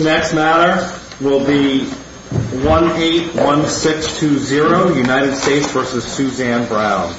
Next matter will be 181620 United States v. Suzanne Brown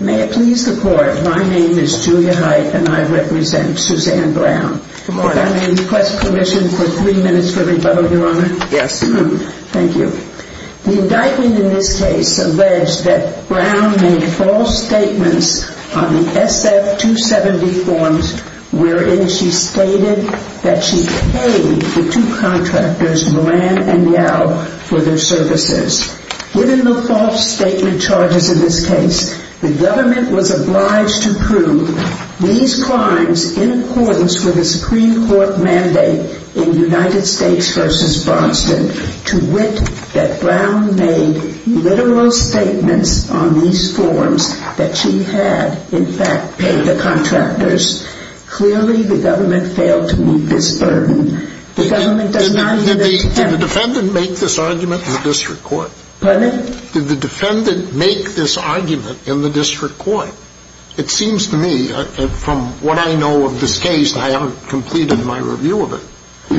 May it please the Court, my name is Julia Height and I represent Suzanne Brown. I may request permission for three minutes for rebuttal, Your Honor. The indictment in this case alleged that Brown made false statements on the SF-270 forms wherein she stated that she paid the two contractors, Moran and Yow, for their services. Given the false statement charges in this case, the government was obliged to prove these crimes in accordance with a Supreme Court mandate in United States v. Boston, to wit that Brown made literal statements on these forms that she had, in fact, paid the contractors. Clearly, the government failed to meet this burden. The government does not need this attempt. Did the defendant make this argument in the district court? Pardon me? Did the defendant make this argument in the district court? It seems to me, from what I know of this case, and I haven't completed my review of it,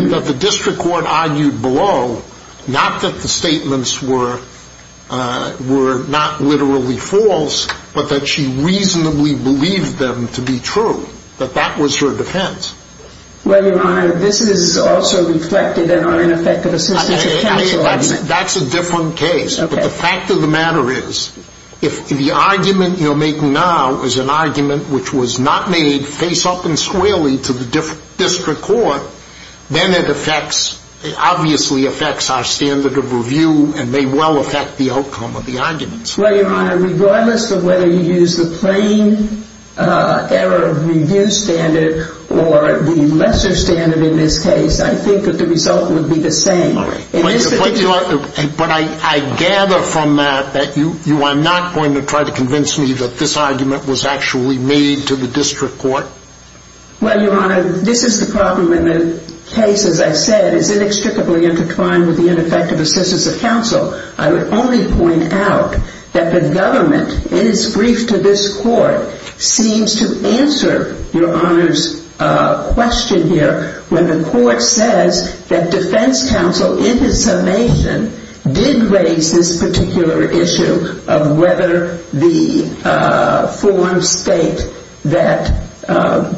that the district court argued below, not that the statements were not literally false, but that she reasonably believed them to be true, that that was her defense. Well, Your Honor, this is also reflected in our ineffective assistance of counsel argument. That's a different case. Okay. But the fact of the matter is, if the argument you're making now is an argument which was not made face up and squarely to the district court, then it obviously affects our standard of review and may well affect the outcome of the argument. Well, Your Honor, regardless of whether you use the plain error of review standard or the lesser standard in this case, I think that the result would be the same. All right. But I gather from that that you are not going to try to convince me that this argument was actually made to the district court? Well, Your Honor, this is the problem in the case, as I said, is inextricably intertwined with the ineffective assistance of counsel. I would only point out that the government, in its brief to this court, seems to answer Your Honor's question here when the court says that defense counsel, in his summation, did raise this particular issue of whether the form state that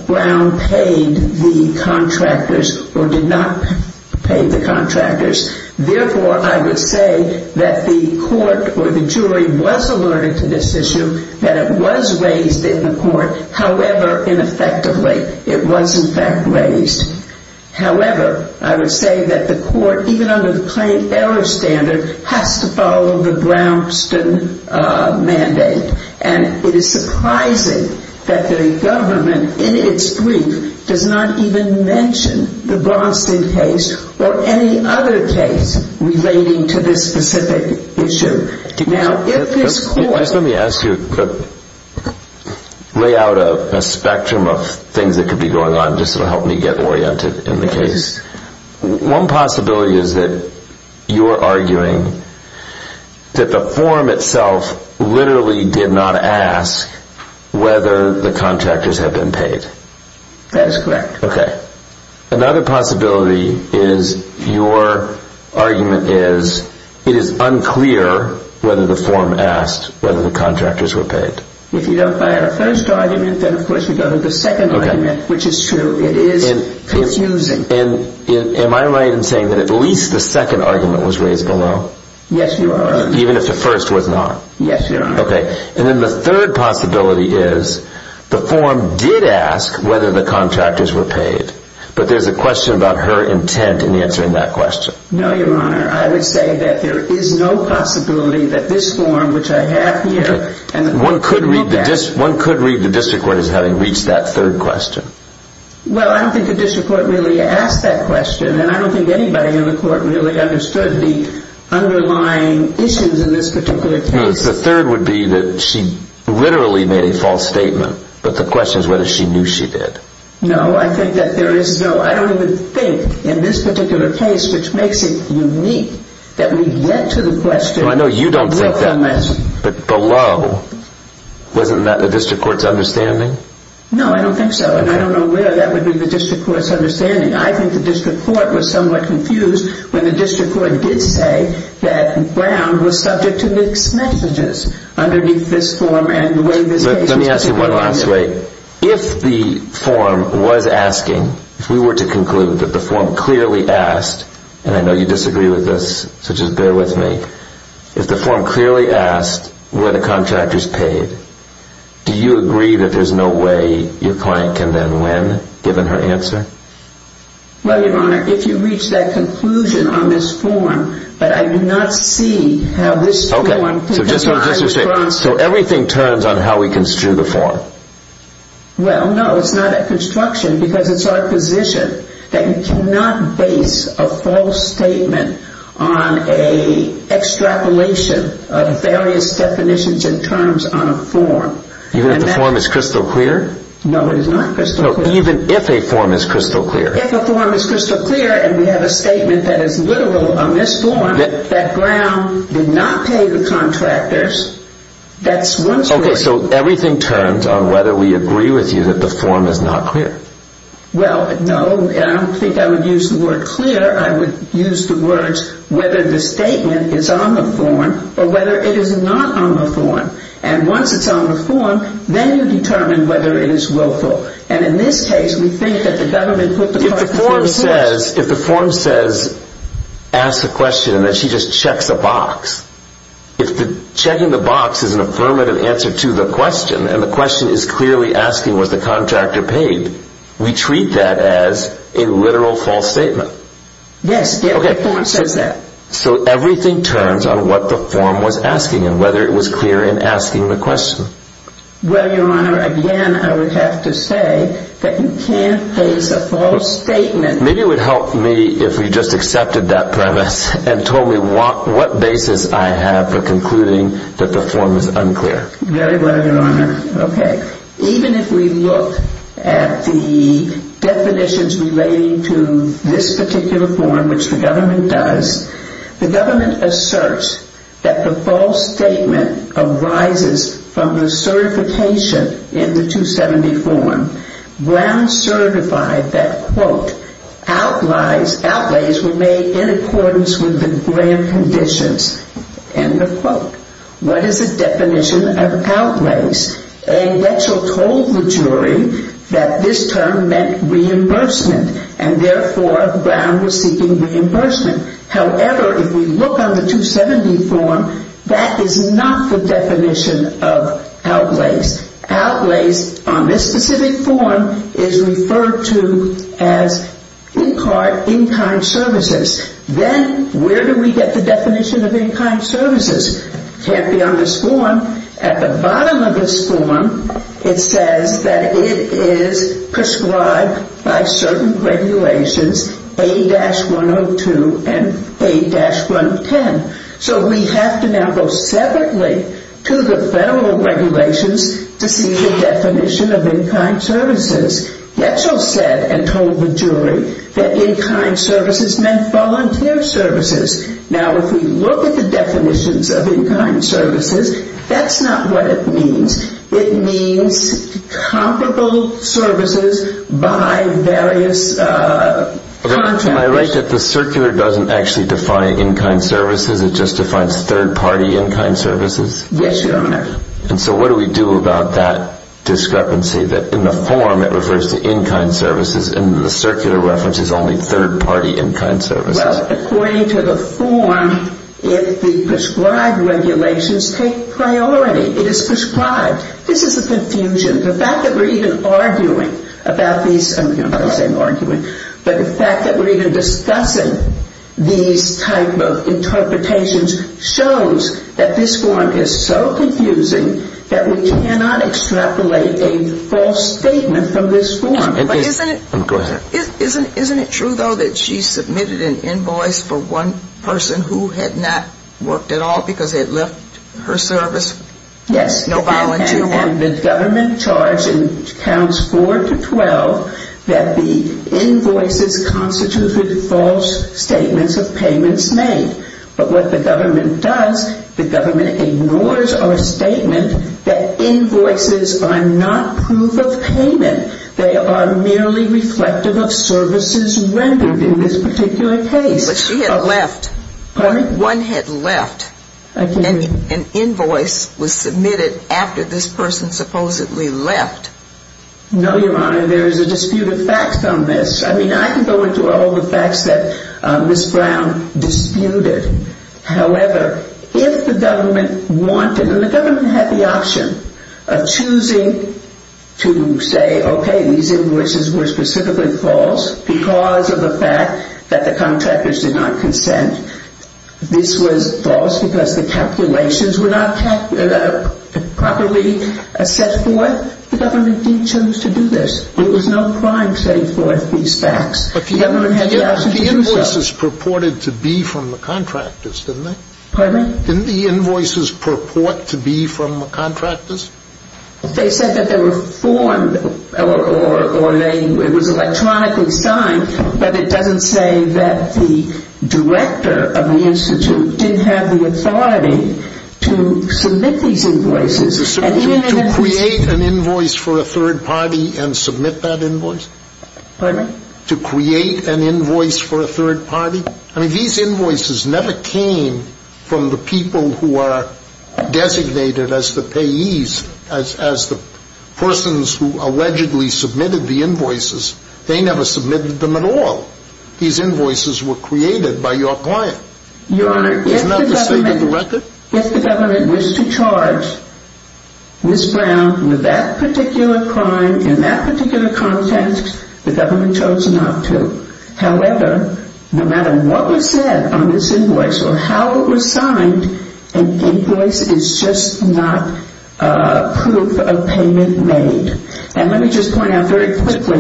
Brown paid the contractors or did not pay the contractors. Therefore, I would say that the court or the jury was alerted to this issue, that it was raised in the court, however ineffectively it was, in fact, raised. However, I would say that the court, even under the plain error standard, has to follow the Brownston mandate. And it is surprising that the government, in its brief, does not even mention the Brownston case or any other case relating to this specific issue. Now, if this court— Just let me ask you to lay out a spectrum of things that could be going on, just so you can help me get oriented in the case. One possibility is that you're arguing that the form itself literally did not ask whether the contractors had been paid. That is correct. Okay. Another possibility is your argument is it is unclear whether the form asked whether the contractors were paid. If you don't buy our first argument, then, of course, we go to the second argument, which is true. It is confusing. And am I right in saying that at least the second argument was raised below? Yes, Your Honor. Even if the first was not? Yes, Your Honor. Okay. And then the third possibility is the form did ask whether the contractors were paid, but there's a question about her intent in answering that question. No, Your Honor. I would say that there is no possibility that this form, which I have here— One could read the district court as having reached that third question. Well, I don't think the district court really asked that question, and I don't think anybody in the court really understood the underlying issues in this particular case. The third would be that she literally made a false statement, but the question is whether she knew she did. No, I think that there is no—I don't even think in this particular case, which makes it unique, that we get to the question— Wasn't that the district court's understanding? No, I don't think so, and I don't know where that would be the district court's understanding. I think the district court was somewhat confused when the district court did say that Brown was subject to mixed messages underneath this form and the way this case was— Let me ask you one last way. If the form was asking, if we were to conclude that the form clearly asked—and I know you disagree with this, so just bear with me—if the form clearly asked whether the contractors paid, do you agree that there's no way your client can then win, given her answer? Well, Your Honor, if you reach that conclusion on this form, but I do not see how this form could be— Okay, so just so I'm clear, so everything turns on how we construe the form? Well, no, it's not a construction, because it's our position that you cannot base a false statement on an extrapolation of various definitions and terms on a form. Even if the form is crystal clear? No, it is not crystal clear. No, even if a form is crystal clear? If a form is crystal clear and we have a statement that is literal on this form, that Brown did not pay the contractors, that's one story. Okay, so everything turns on whether we agree with you that the form is not clear? Well, no, I don't think I would use the word clear. I would use the words whether the statement is on the form or whether it is not on the form. And once it's on the form, then you determine whether it is willful. And in this case, we think that the government put the cart before the horse. If the form says, ask the question, and then she just checks a box, if checking the box is an affirmative answer to the question, and the question is clearly asking was the question, we treat that as a literal false statement. Yes, the form says that. So everything turns on what the form was asking and whether it was clear in asking the question. Well, Your Honor, again, I would have to say that you can't base a false statement... Maybe it would help me if we just accepted that premise and told me what basis I have for concluding that the form is unclear. Very well, Your Honor. Even if we look at the definitions relating to this particular form, which the government does, the government asserts that the false statement arises from the certification in the 270 form. Brown certified that, quote, outlays were made in accordance with the grant conditions. End of quote. What is the definition of outlays? A lecturer told the jury that this term meant reimbursement, and therefore, Brown was seeking reimbursement. However, if we look on the 270 form, that is not the definition of outlays. Outlays on this specific form is referred to as, in part, in-kind services. Then, where do we get the definition of in-kind services? It can't be on this form. At the bottom of this form, it says that it is prescribed by certain regulations, A-102 and A-110. So we have to now go separately to the federal regulations to see the definition of in-kind services. Hetzel said, and told the jury, that in-kind services meant volunteer services. Now, if we look at the definitions of in-kind services, that's not what it means. It means comparable services by various contracts. Am I right that the circular doesn't actually define in-kind services? It just defines third-party in-kind services? Yes, Your Honor. And so what do we do about that discrepancy that in the form it refers to in-kind services and the circular references only third-party in-kind services? Well, according to the form, if the prescribed regulations take priority, it is prescribed. This is a confusion. The fact that we're even arguing about these, I'm not going to say arguing, but the fact that we're even discussing these type of interpretations shows that this form is so confusing that we cannot extrapolate a false statement from this form. But isn't it true, though, that she submitted an invoice for one person who had not worked at all because they had left her service? Yes. No volunteer work. And the government charged in Counts 4 to 12 that the invoices constituted false statements of payments made. But what the government does, the government ignores our statement that invoices are not proof of payment. They are merely reflective of services rendered in this particular case. But she had left. Pardon me? One had left. I can't hear you. An invoice was submitted after this person supposedly left. No, Your Honor, there is a dispute of facts on this. I mean, I can go into all the facts that Ms. Brown disputed. However, if the government wanted, and the government had the option of choosing to say, okay, these invoices were specifically false because of the fact that the contractors did not consent, this was false because the calculations were not properly set forth, the government did choose to do this. There was no crime setting forth these facts. But the invoices purported to be from the contractors, didn't they? Pardon me? Didn't the invoices purport to be from the contractors? They said that they were formed or it was electronically signed, but it doesn't say that the director of the institute didn't have the authority to submit these invoices. To create an invoice for a third party and submit that invoice? Pardon me? To create an invoice for a third party? I mean, these invoices never came from the people who are designated as the payees, as the persons who allegedly submitted the invoices. They never submitted them at all. These invoices were created by your client. Your Honor, if the government wished to charge Ms. Brown with that particular crime in that particular context, the government chose not to. However, no matter what was said on this invoice or how it was signed, an invoice is just not proof of payment made. And let me just point out very quickly.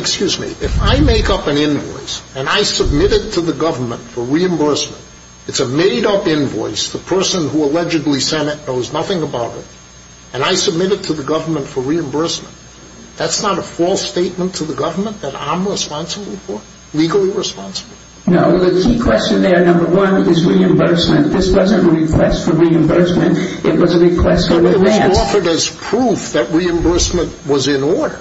Excuse me. If I make up an invoice and I submit it to the government for reimbursement, it's a made-up invoice, the person who allegedly sent it knows nothing about it, and I submit it to the government for reimbursement, that's not a false statement to the government that I'm responsible for? Legally responsible? No. The key question there, number one, is reimbursement. This wasn't a request for reimbursement. It was a request for advance. But it was offered as proof that reimbursement was in order.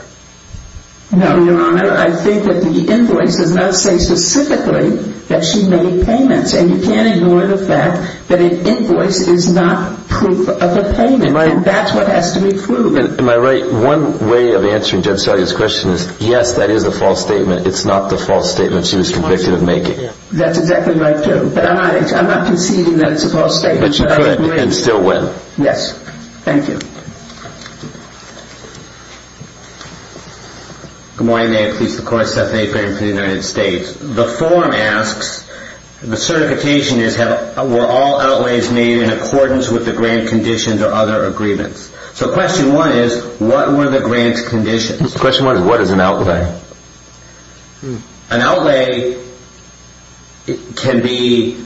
No, Your Honor. I think that the invoice does not say specifically that she made payments. And you can't ignore the fact that an invoice is not proof of a payment. And that's what has to be proved. Am I right? One way of answering Judge Salyer's question is, yes, that is a false statement. It's not the false statement she was convicted of making. That's exactly right, too. But I'm not conceding that it's a false statement. But you could and still would. Yes. Thank you. Good morning. May I please have the court's second hearing for the United States. The form asks, the certification is, were all outweighs made in accordance with the grant conditions or other agreements? So question one is, what were the grant conditions? Question one is, what is an outweigh? An outweigh can be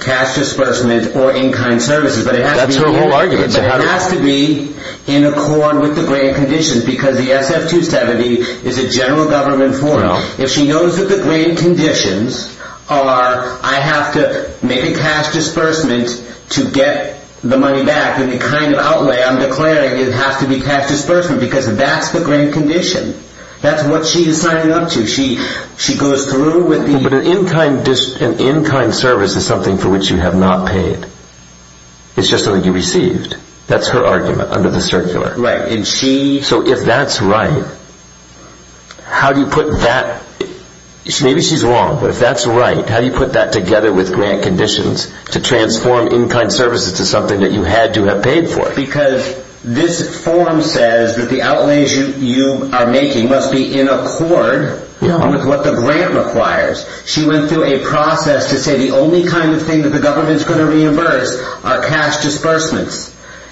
cash disbursement or in-kind services. That's her whole argument. It has to be in accordance with the grant conditions because the SF-270 is a general government form. If she knows that the grant conditions are, I have to make a cash disbursement to get the money back, and to kind of outweigh, I'm declaring it has to be cash disbursement because that's the grant condition. That's what she's signing up to. She goes through with the... But an in-kind service is something for which you have not paid. It's just something you received. That's her argument under the circular. Right. And she... So if that's right, how do you put that... Maybe she's wrong, but if that's right, how do you put that together with grant conditions to transform in-kind services to something that you had to have paid for? Because this form says that the outweighs you are making must be in accord with what the grant requires. She went through a process to say the only kind of thing that the government is going to reimburse are cash disbursements.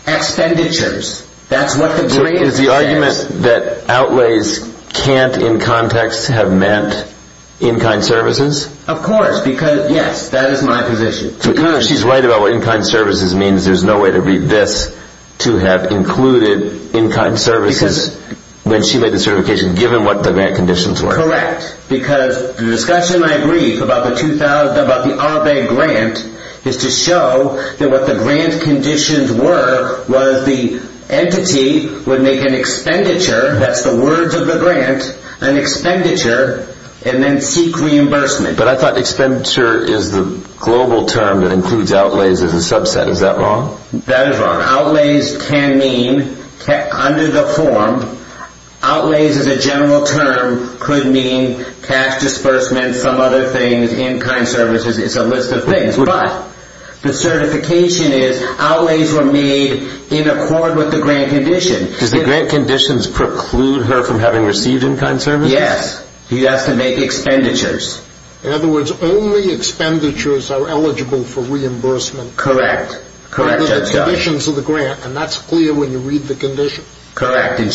Expenditures. That's what the grant says. Is the argument that outweighs can't in context have meant in-kind services? Of course, because, yes, that is my position. Because she's right about what in-kind services means, there's no way to read this to have included in-kind services when she made the certification, given what the grant conditions were. Correct. Because the discussion I briefed about the ARBE grant is to show that what the grant conditions were was the entity would make an expenditure, that's the words of the grant, and then seek reimbursement. But I thought expenditure is the global term that includes outweighs as a subset. Is that wrong? That is wrong. Outweighs can mean, under the form, outweighs as a general term could mean cash disbursements, some other things, in-kind services, it's a list of things. But the certification is outweighs were made in accord with the grant condition. Does the grant conditions preclude her from having received in-kind services? Yes. She has to make expenditures. In other words, only expenditures are eligible for reimbursement. Correct. Correct, Judge Scott. Under the conditions of the grant, and that's clear when you read the condition. Correct. And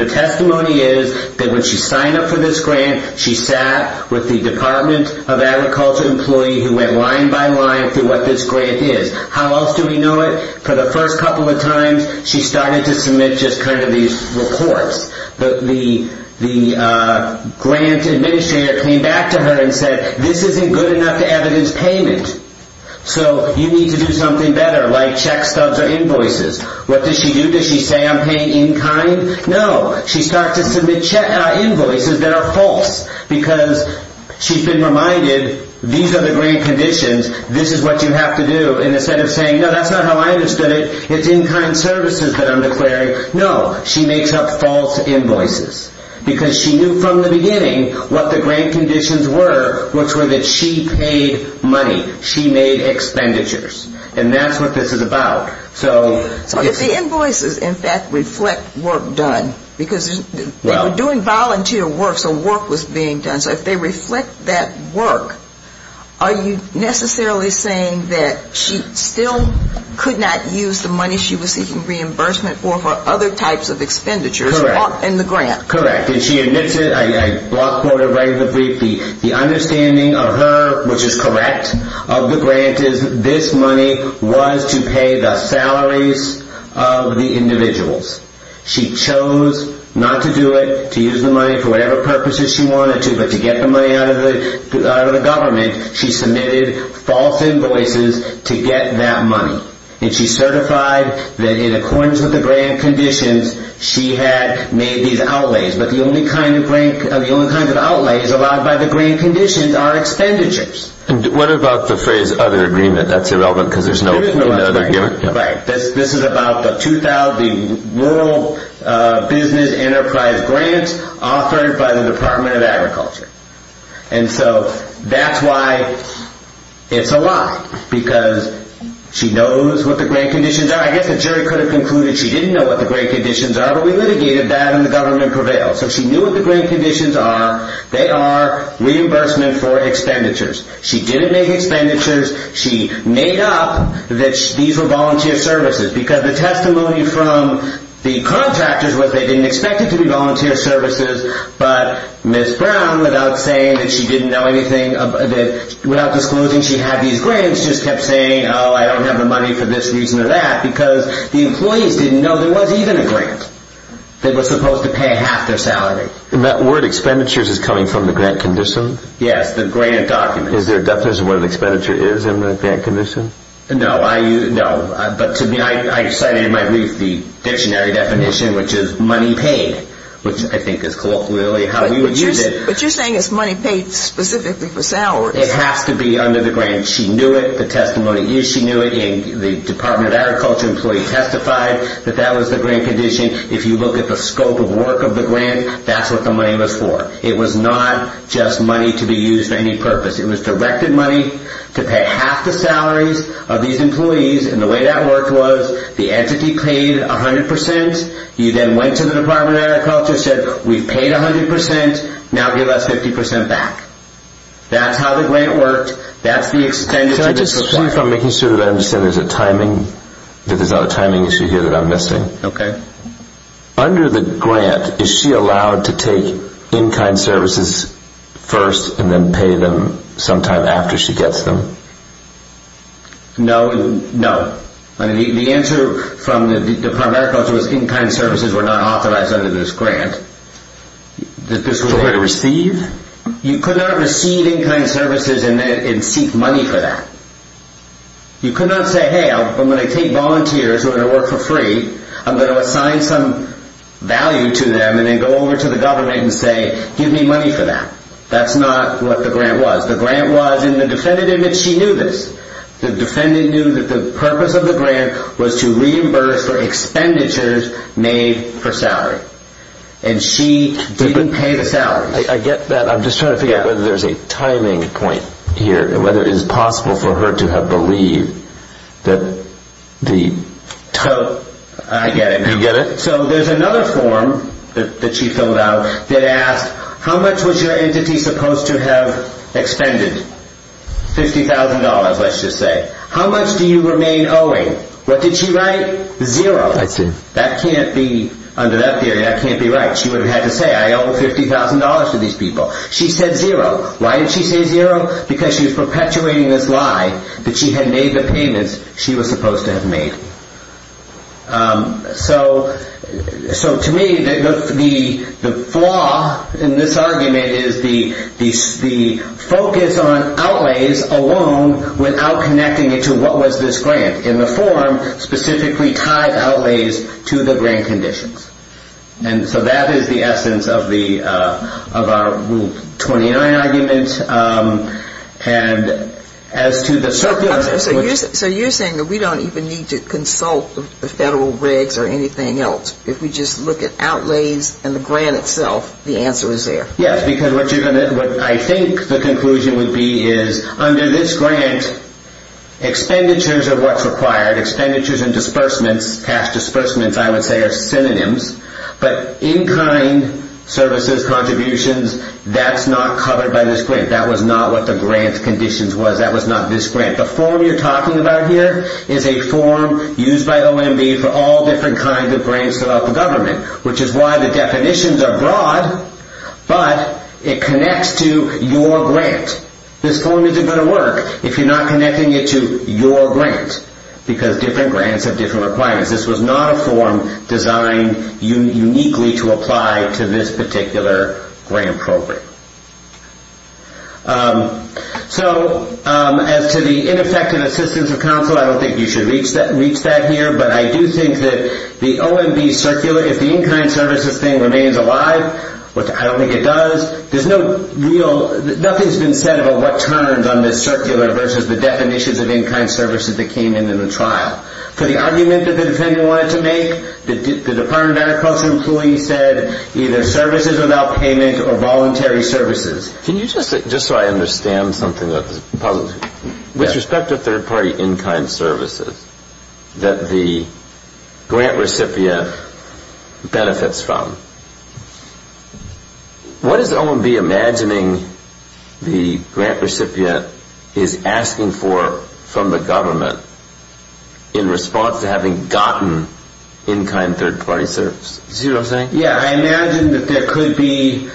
the testimony is that when she signed up for this grant, she sat with the Department of Agriculture employee who went line by line through what this grant is. How else do we know it? For the first couple of times, she started to submit just kind of these reports. But the grant administrator came back to her and said, this isn't good enough to evidence payment. So you need to do something better, like check stubs or invoices. What does she do? Does she say, I'm paying in-kind? No. She starts to submit invoices that are false because she's been reminded, these are the grant conditions, this is what you have to do. And instead of saying, no, that's not how I understood it, it's in-kind services that I'm declaring, no, she makes up false invoices because she knew from the beginning what the grant conditions were, which were that she paid money, she made expenditures. And that's what this is about. So if the invoices, in fact, reflect work done, because they were doing volunteer work, so work was being done, so if they reflect that work, are you necessarily saying that she still could not use the money she was seeking reimbursement for for other types of expenditures in the grant? Correct. And she admits it. I block quoted right in the brief. The understanding of her, which is correct, of the grant, is this money was to pay the salaries of the individuals. She chose not to do it, to use the money for whatever purposes she wanted to, but to get the money out of the government, she submitted false invoices to get that money. And she certified that in accordance with the grant conditions, she had made these outlays. But the only kind of outlays allowed by the grant conditions are expenditures. And what about the phrase other agreement? That's irrelevant because there's no other agreement. Right. This is about the rural business enterprise grant authored by the Department of Agriculture. And so that's why it's a lie, because she knows what the grant conditions are. I guess the jury could have concluded she didn't know what the grant conditions are, but we litigated that and the government prevailed. So she knew what the grant conditions are. They are reimbursement for expenditures. She didn't make expenditures. She made up that these were volunteer services because the testimony from the contractors was they didn't expect it to be volunteer services. But Ms. Brown, without saying that she didn't know anything, without disclosing she had these grants, just kept saying, oh, I don't have the money for this reason or that, because the employees didn't know there was even a grant. They were supposed to pay half their salary. And that word expenditures is coming from the grant condition? Yes, the grant document. Is there a definition of what an expenditure is in the grant condition? No, but I cited in my brief the dictionary definition, which is money paid, which I think is colloquially how we would use it. But you're saying it's money paid specifically for salaries. It has to be under the grant. She knew it. The testimony is she knew it. And the Department of Agriculture employee testified that that was the grant condition. If you look at the scope of work of the grant, that's what the money was for. It was not just money to be used for any purpose. It was directed money to pay half the salaries of these employees. And the way that worked was the entity paid 100 percent. You then went to the Department of Agriculture and said we've paid 100 percent. Now give us 50 percent back. That's how the grant worked. That's the expenditure. Can I just ask you if I'm making sure that I understand there's a timing, that there's not a timing issue here that I'm missing? Okay. Under the grant, is she allowed to take in-kind services first and then pay them sometime after she gets them? No. No. The answer from the Department of Agriculture was in-kind services were not authorized under this grant. So they receive? You could not receive in-kind services and seek money for that. You could not say, hey, I'm going to take volunteers who are going to work for free. I'm going to assign some value to them and then go over to the government and say give me money for that. That's not what the grant was. The grant was, and the defendant in it, she knew this. The defendant knew that the purpose of the grant was to reimburse for expenditures made per salary. And she didn't pay the salaries. I get that. I'm just trying to figure out whether there's a timing point here and whether it is possible for her to have believed that the time... I get it. You get it? So there's another form that she filled out that asked, how much was your entity supposed to have expended? $50,000, let's just say. How much do you remain owing? What did she write? Zero. I see. That can't be, under that theory, that can't be right. She would have had to say, I owe $50,000 to these people. She said zero. Why did she say zero? Because she was perpetuating this lie that she had made the payments she was supposed to have made. So to me, the flaw in this argument is the focus on outlays alone without connecting it to what was this grant. In the form, specifically tied outlays to the grant conditions. And so that is the essence of our Rule 29 argument. And as to the circular... So you're saying that we don't even need to consult the federal regs or anything else. If we just look at outlays and the grant itself, the answer is there. Yes, because what I think the conclusion would be is, under this grant, expenditures are what's required. Expenditures and disbursements, cash disbursements I would say, are synonyms. But in-kind services, contributions, that's not covered by this grant. That was not what the grant conditions was. That was not this grant. The form you're talking about here is a form used by OMB for all different kinds of grants throughout the government. Which is why the definitions are broad, but it connects to your grant. This form isn't going to work if you're not connecting it to your grant. Because different grants have different requirements. This was not a form designed uniquely to apply to this particular grant program. So as to the ineffective assistance of counsel, I don't think you should reach that here. But I do think that the OMB circular, if the in-kind services thing remains alive, which I don't think it does, there's no real, nothing's been said about what terms on this circular versus the definitions of in-kind services that came in in the trial. For the argument that the defendant wanted to make, the Department of Agriculture employee said, either services without payment or voluntary services. Can you just, just so I understand something, with respect to third party in-kind services that the grant recipient benefits from, what is OMB imagining the grant recipient is asking for from the government in response to having gotten in-kind third party services? Yeah, I imagine that there could be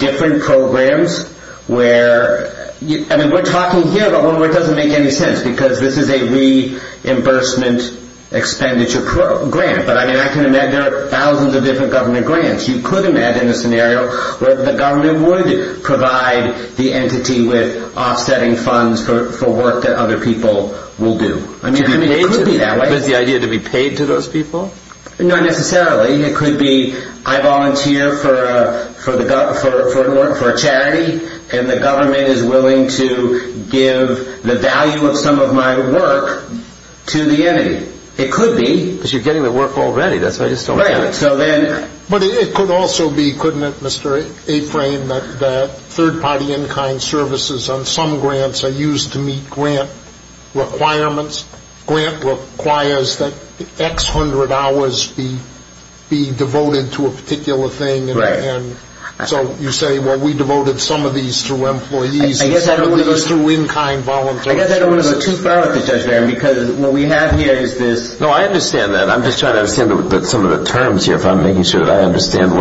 different programs where, I mean we're talking here, but it doesn't make any sense. Because this is a reimbursement expenditure grant. But I can imagine there are thousands of different government grants. You could imagine a scenario where the government would provide the entity with offsetting funds for work that other people will do. It could be that way. Is the idea to be paid to those people? Not necessarily. It could be I volunteer for a charity and the government is willing to give the value of some of my work to the entity. It could be. Because you're getting the work already. That's why I just don't get it. Right. But it could also be, couldn't it, Mr. Aframe, that third party in-kind services on some grants are used to meet grant requirements? Grant requires that X hundred hours be devoted to a particular thing. Right. And so you say, well, we devoted some of these through employees and some of these through in-kind voluntary services. I guess there was a too far out to judge there because what we have here is this. No, I understand that. I'm just trying to understand some of the terms here if I'm making sure that I understand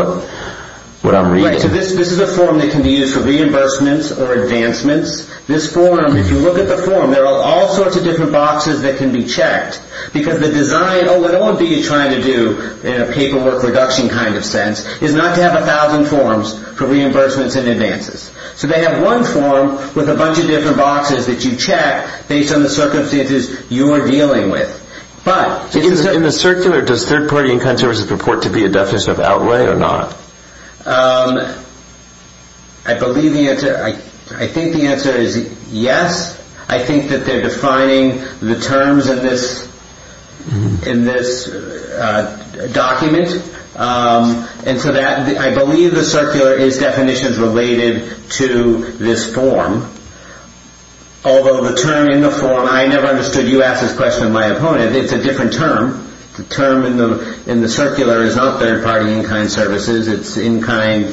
what I'm reading. Right. So this is a form that can be used for reimbursements or advancements. This form, if you look at the form, there are all sorts of different boxes that can be checked because the design, what OMB is trying to do in a paperwork reduction kind of sense is not to have a thousand forms for reimbursements and advances. So they have one form with a bunch of different boxes that you check based on the circumstances you are dealing with. But in the circular, does third party in-kind services report to be a definition of outlay or not? I believe the answer. I think the answer is yes. I think that they're defining the terms of this in this document. And so that I believe the circular is definitions related to this form. Although the term in the form, I never understood you ask this question of my opponent. It's a different term. The term in the circular is not third party in-kind services. It's in-kind,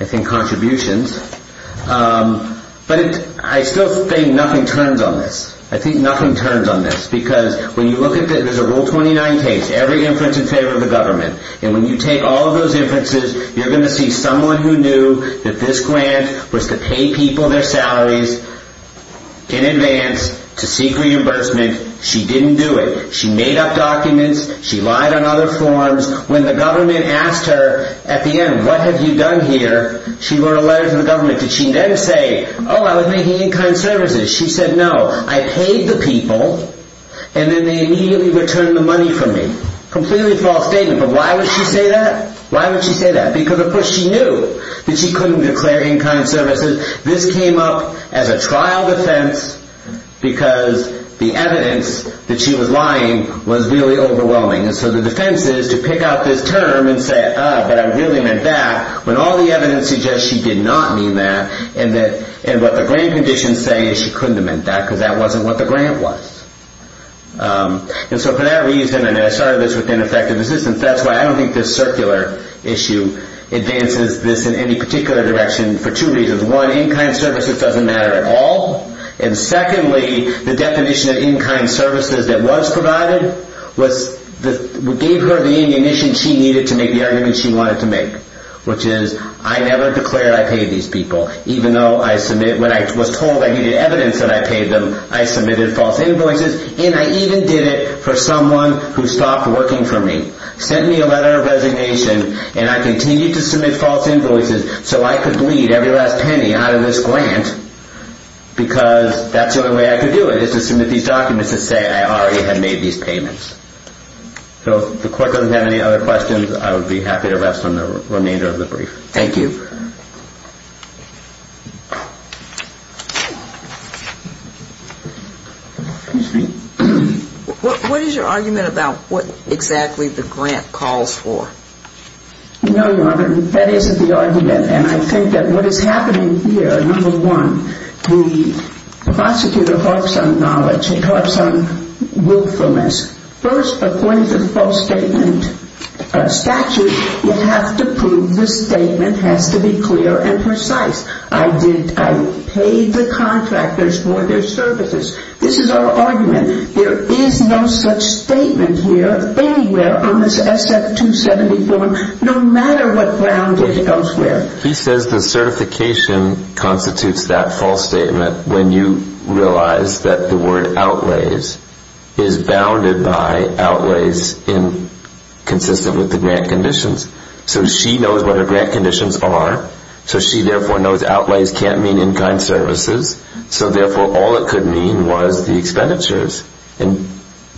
I think, contributions. But I still think nothing turns on this. I think nothing turns on this because when you look at it, there's a rule 29 case. Every inference in favor of the government. And when you take all of those inferences, you're going to see someone who knew that this grant was to pay people their salaries in advance to seek reimbursement. She didn't do it. She made up documents. She lied on other forms. When the government asked her at the end, what have you done here? She wrote a letter to the government. Did she then say, oh, I was making in-kind services. She said, no, I paid the people. And then they immediately returned the money from me. Completely false statement. But why would she say that? Why would she say that? Because of course she knew that she couldn't declare in-kind services. This came up as a trial defense because the evidence that she was lying was really overwhelming. And so the defense is to pick out this term and say, ah, but I really meant that, when all the evidence suggests she did not mean that. And what the grant conditions say is she couldn't have meant that because that wasn't what the grant was. And so for that reason, and I started this with ineffective assistance, that's why I don't think this circular issue advances this in any particular direction for two reasons. One, in-kind services doesn't matter at all. And secondly, the definition of in-kind services that was provided gave her the indignation she needed to make the argument she wanted to make, which is, I never declared I paid these people, even though when I was told I needed evidence that I paid them, I submitted false invoices, and I even did it for someone who stopped working for me. Sent me a letter of resignation, and I continued to submit false invoices so I could bleed every last penny out of this grant because that's the only way I could do it, is to submit these documents to say I already had made these payments. So if the court doesn't have any other questions, I would be happy to rest on the remainder of the brief. Thank you. Excuse me. What is your argument about what exactly the grant calls for? No, Your Honor, that isn't the argument. And I think that what is happening here, number one, the prosecutor harps on knowledge. He harps on willfulness. First, according to the false statement statute, you have to prove the statement has to be clear and precise. I paid the contractors for their services. This is our argument. There is no such statement here anywhere on this SF-270 form, no matter what ground it goes where. He says the certification constitutes that false statement when you realize that the word outlays is bounded by outlays consistent with the grant conditions. So she knows what her grant conditions are, so she therefore knows outlays can't mean in-kind services, so therefore all it could mean was the expenditures, and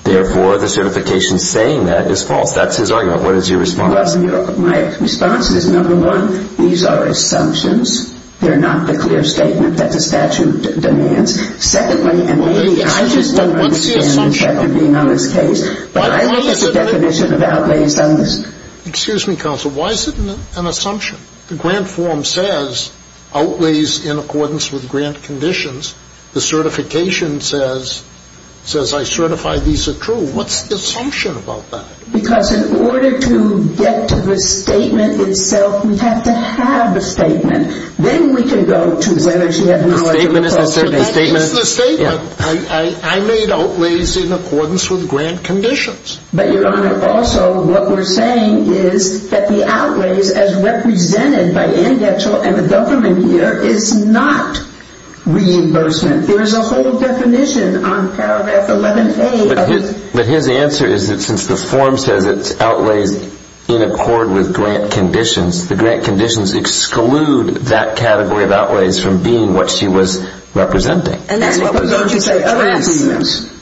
therefore the certification saying that is false. That's his argument. What is your response? My response is, number one, these are assumptions. They're not the clear statement that the statute demands. Secondly, and maybe I just don't understand the effect of being on this case, but I like the definition of outlays on this. Excuse me, counsel, why is it an assumption? The grant form says outlays in accordance with grant conditions. The certification says I certify these are true. What's the assumption about that? Because in order to get to the statement itself, we have to have a statement. Then we can go to whether she had an election proposal today. But that is the statement. I made outlays in accordance with grant conditions. But, Your Honor, also what we're saying is that the outlays as represented by Ann Getchell and the government here is not reimbursement. There is a whole definition on paragraph 11A of it. But his answer is that since the form says it's outlays in accord with grant conditions, the grant conditions exclude that category of outlays from being what she was representing. And that's what we need you to address.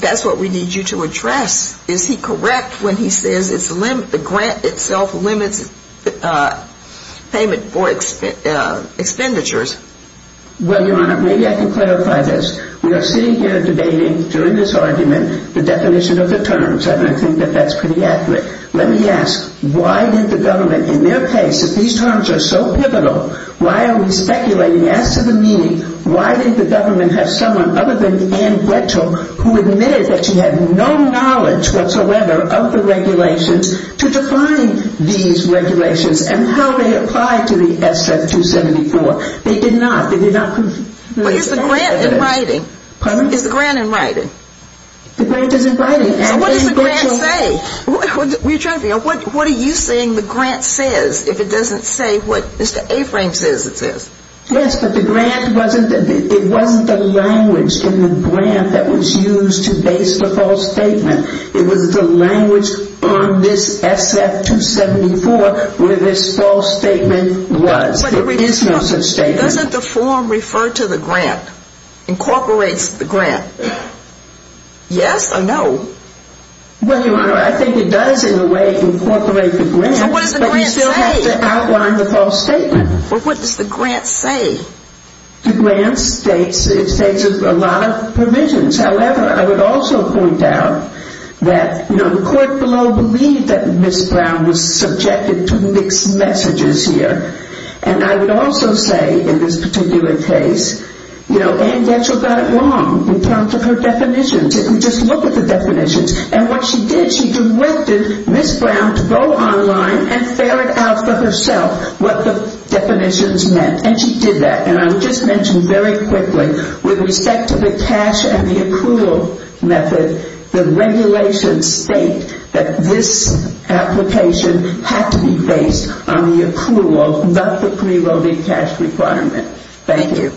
That's what we need you to address. Is he correct when he says the grant itself limits payment for expenditures? Well, Your Honor, maybe I can clarify this. We are sitting here debating, during this argument, the definition of the terms. I think that that's pretty accurate. Let me ask, why did the government, in their case, if these terms are so pivotal, why are we speculating? Ask to the meeting, why did the government have someone other than Ann Getchell, who admitted that she had no knowledge whatsoever of the regulations, to define these regulations and how they apply to the SF-274? They did not. But is the grant in writing? Pardon? Is the grant in writing? The grant is in writing. So what does the grant say? What are you saying the grant says if it doesn't say what Mr. Aframe says it says? Yes, but the grant wasn't the language in the grant that was used to base the false statement. It was the language on this SF-274 where this false statement was. There is no such statement. Doesn't the form refer to the grant, incorporates the grant? Yes or no? Well, Your Honor, I think it does, in a way, incorporate the grant. So what does the grant say? But you still have to outline the false statement. Well, what does the grant say? The grant states a lot of provisions. However, I would also point out that the court below believed that Ms. Brown was subjected to mixed messages here. And I would also say in this particular case, you know, Ann Getchell got it wrong. We prompted her definitions. If we just look at the definitions. And what she did, she directed Ms. Brown to go online and ferret out for herself what the definitions meant. And she did that. And I would just mention very quickly, with respect to the cash and the accrual method, the regulations state that this application had to be based on the accrual, not the preloaded cash requirement. Thank you.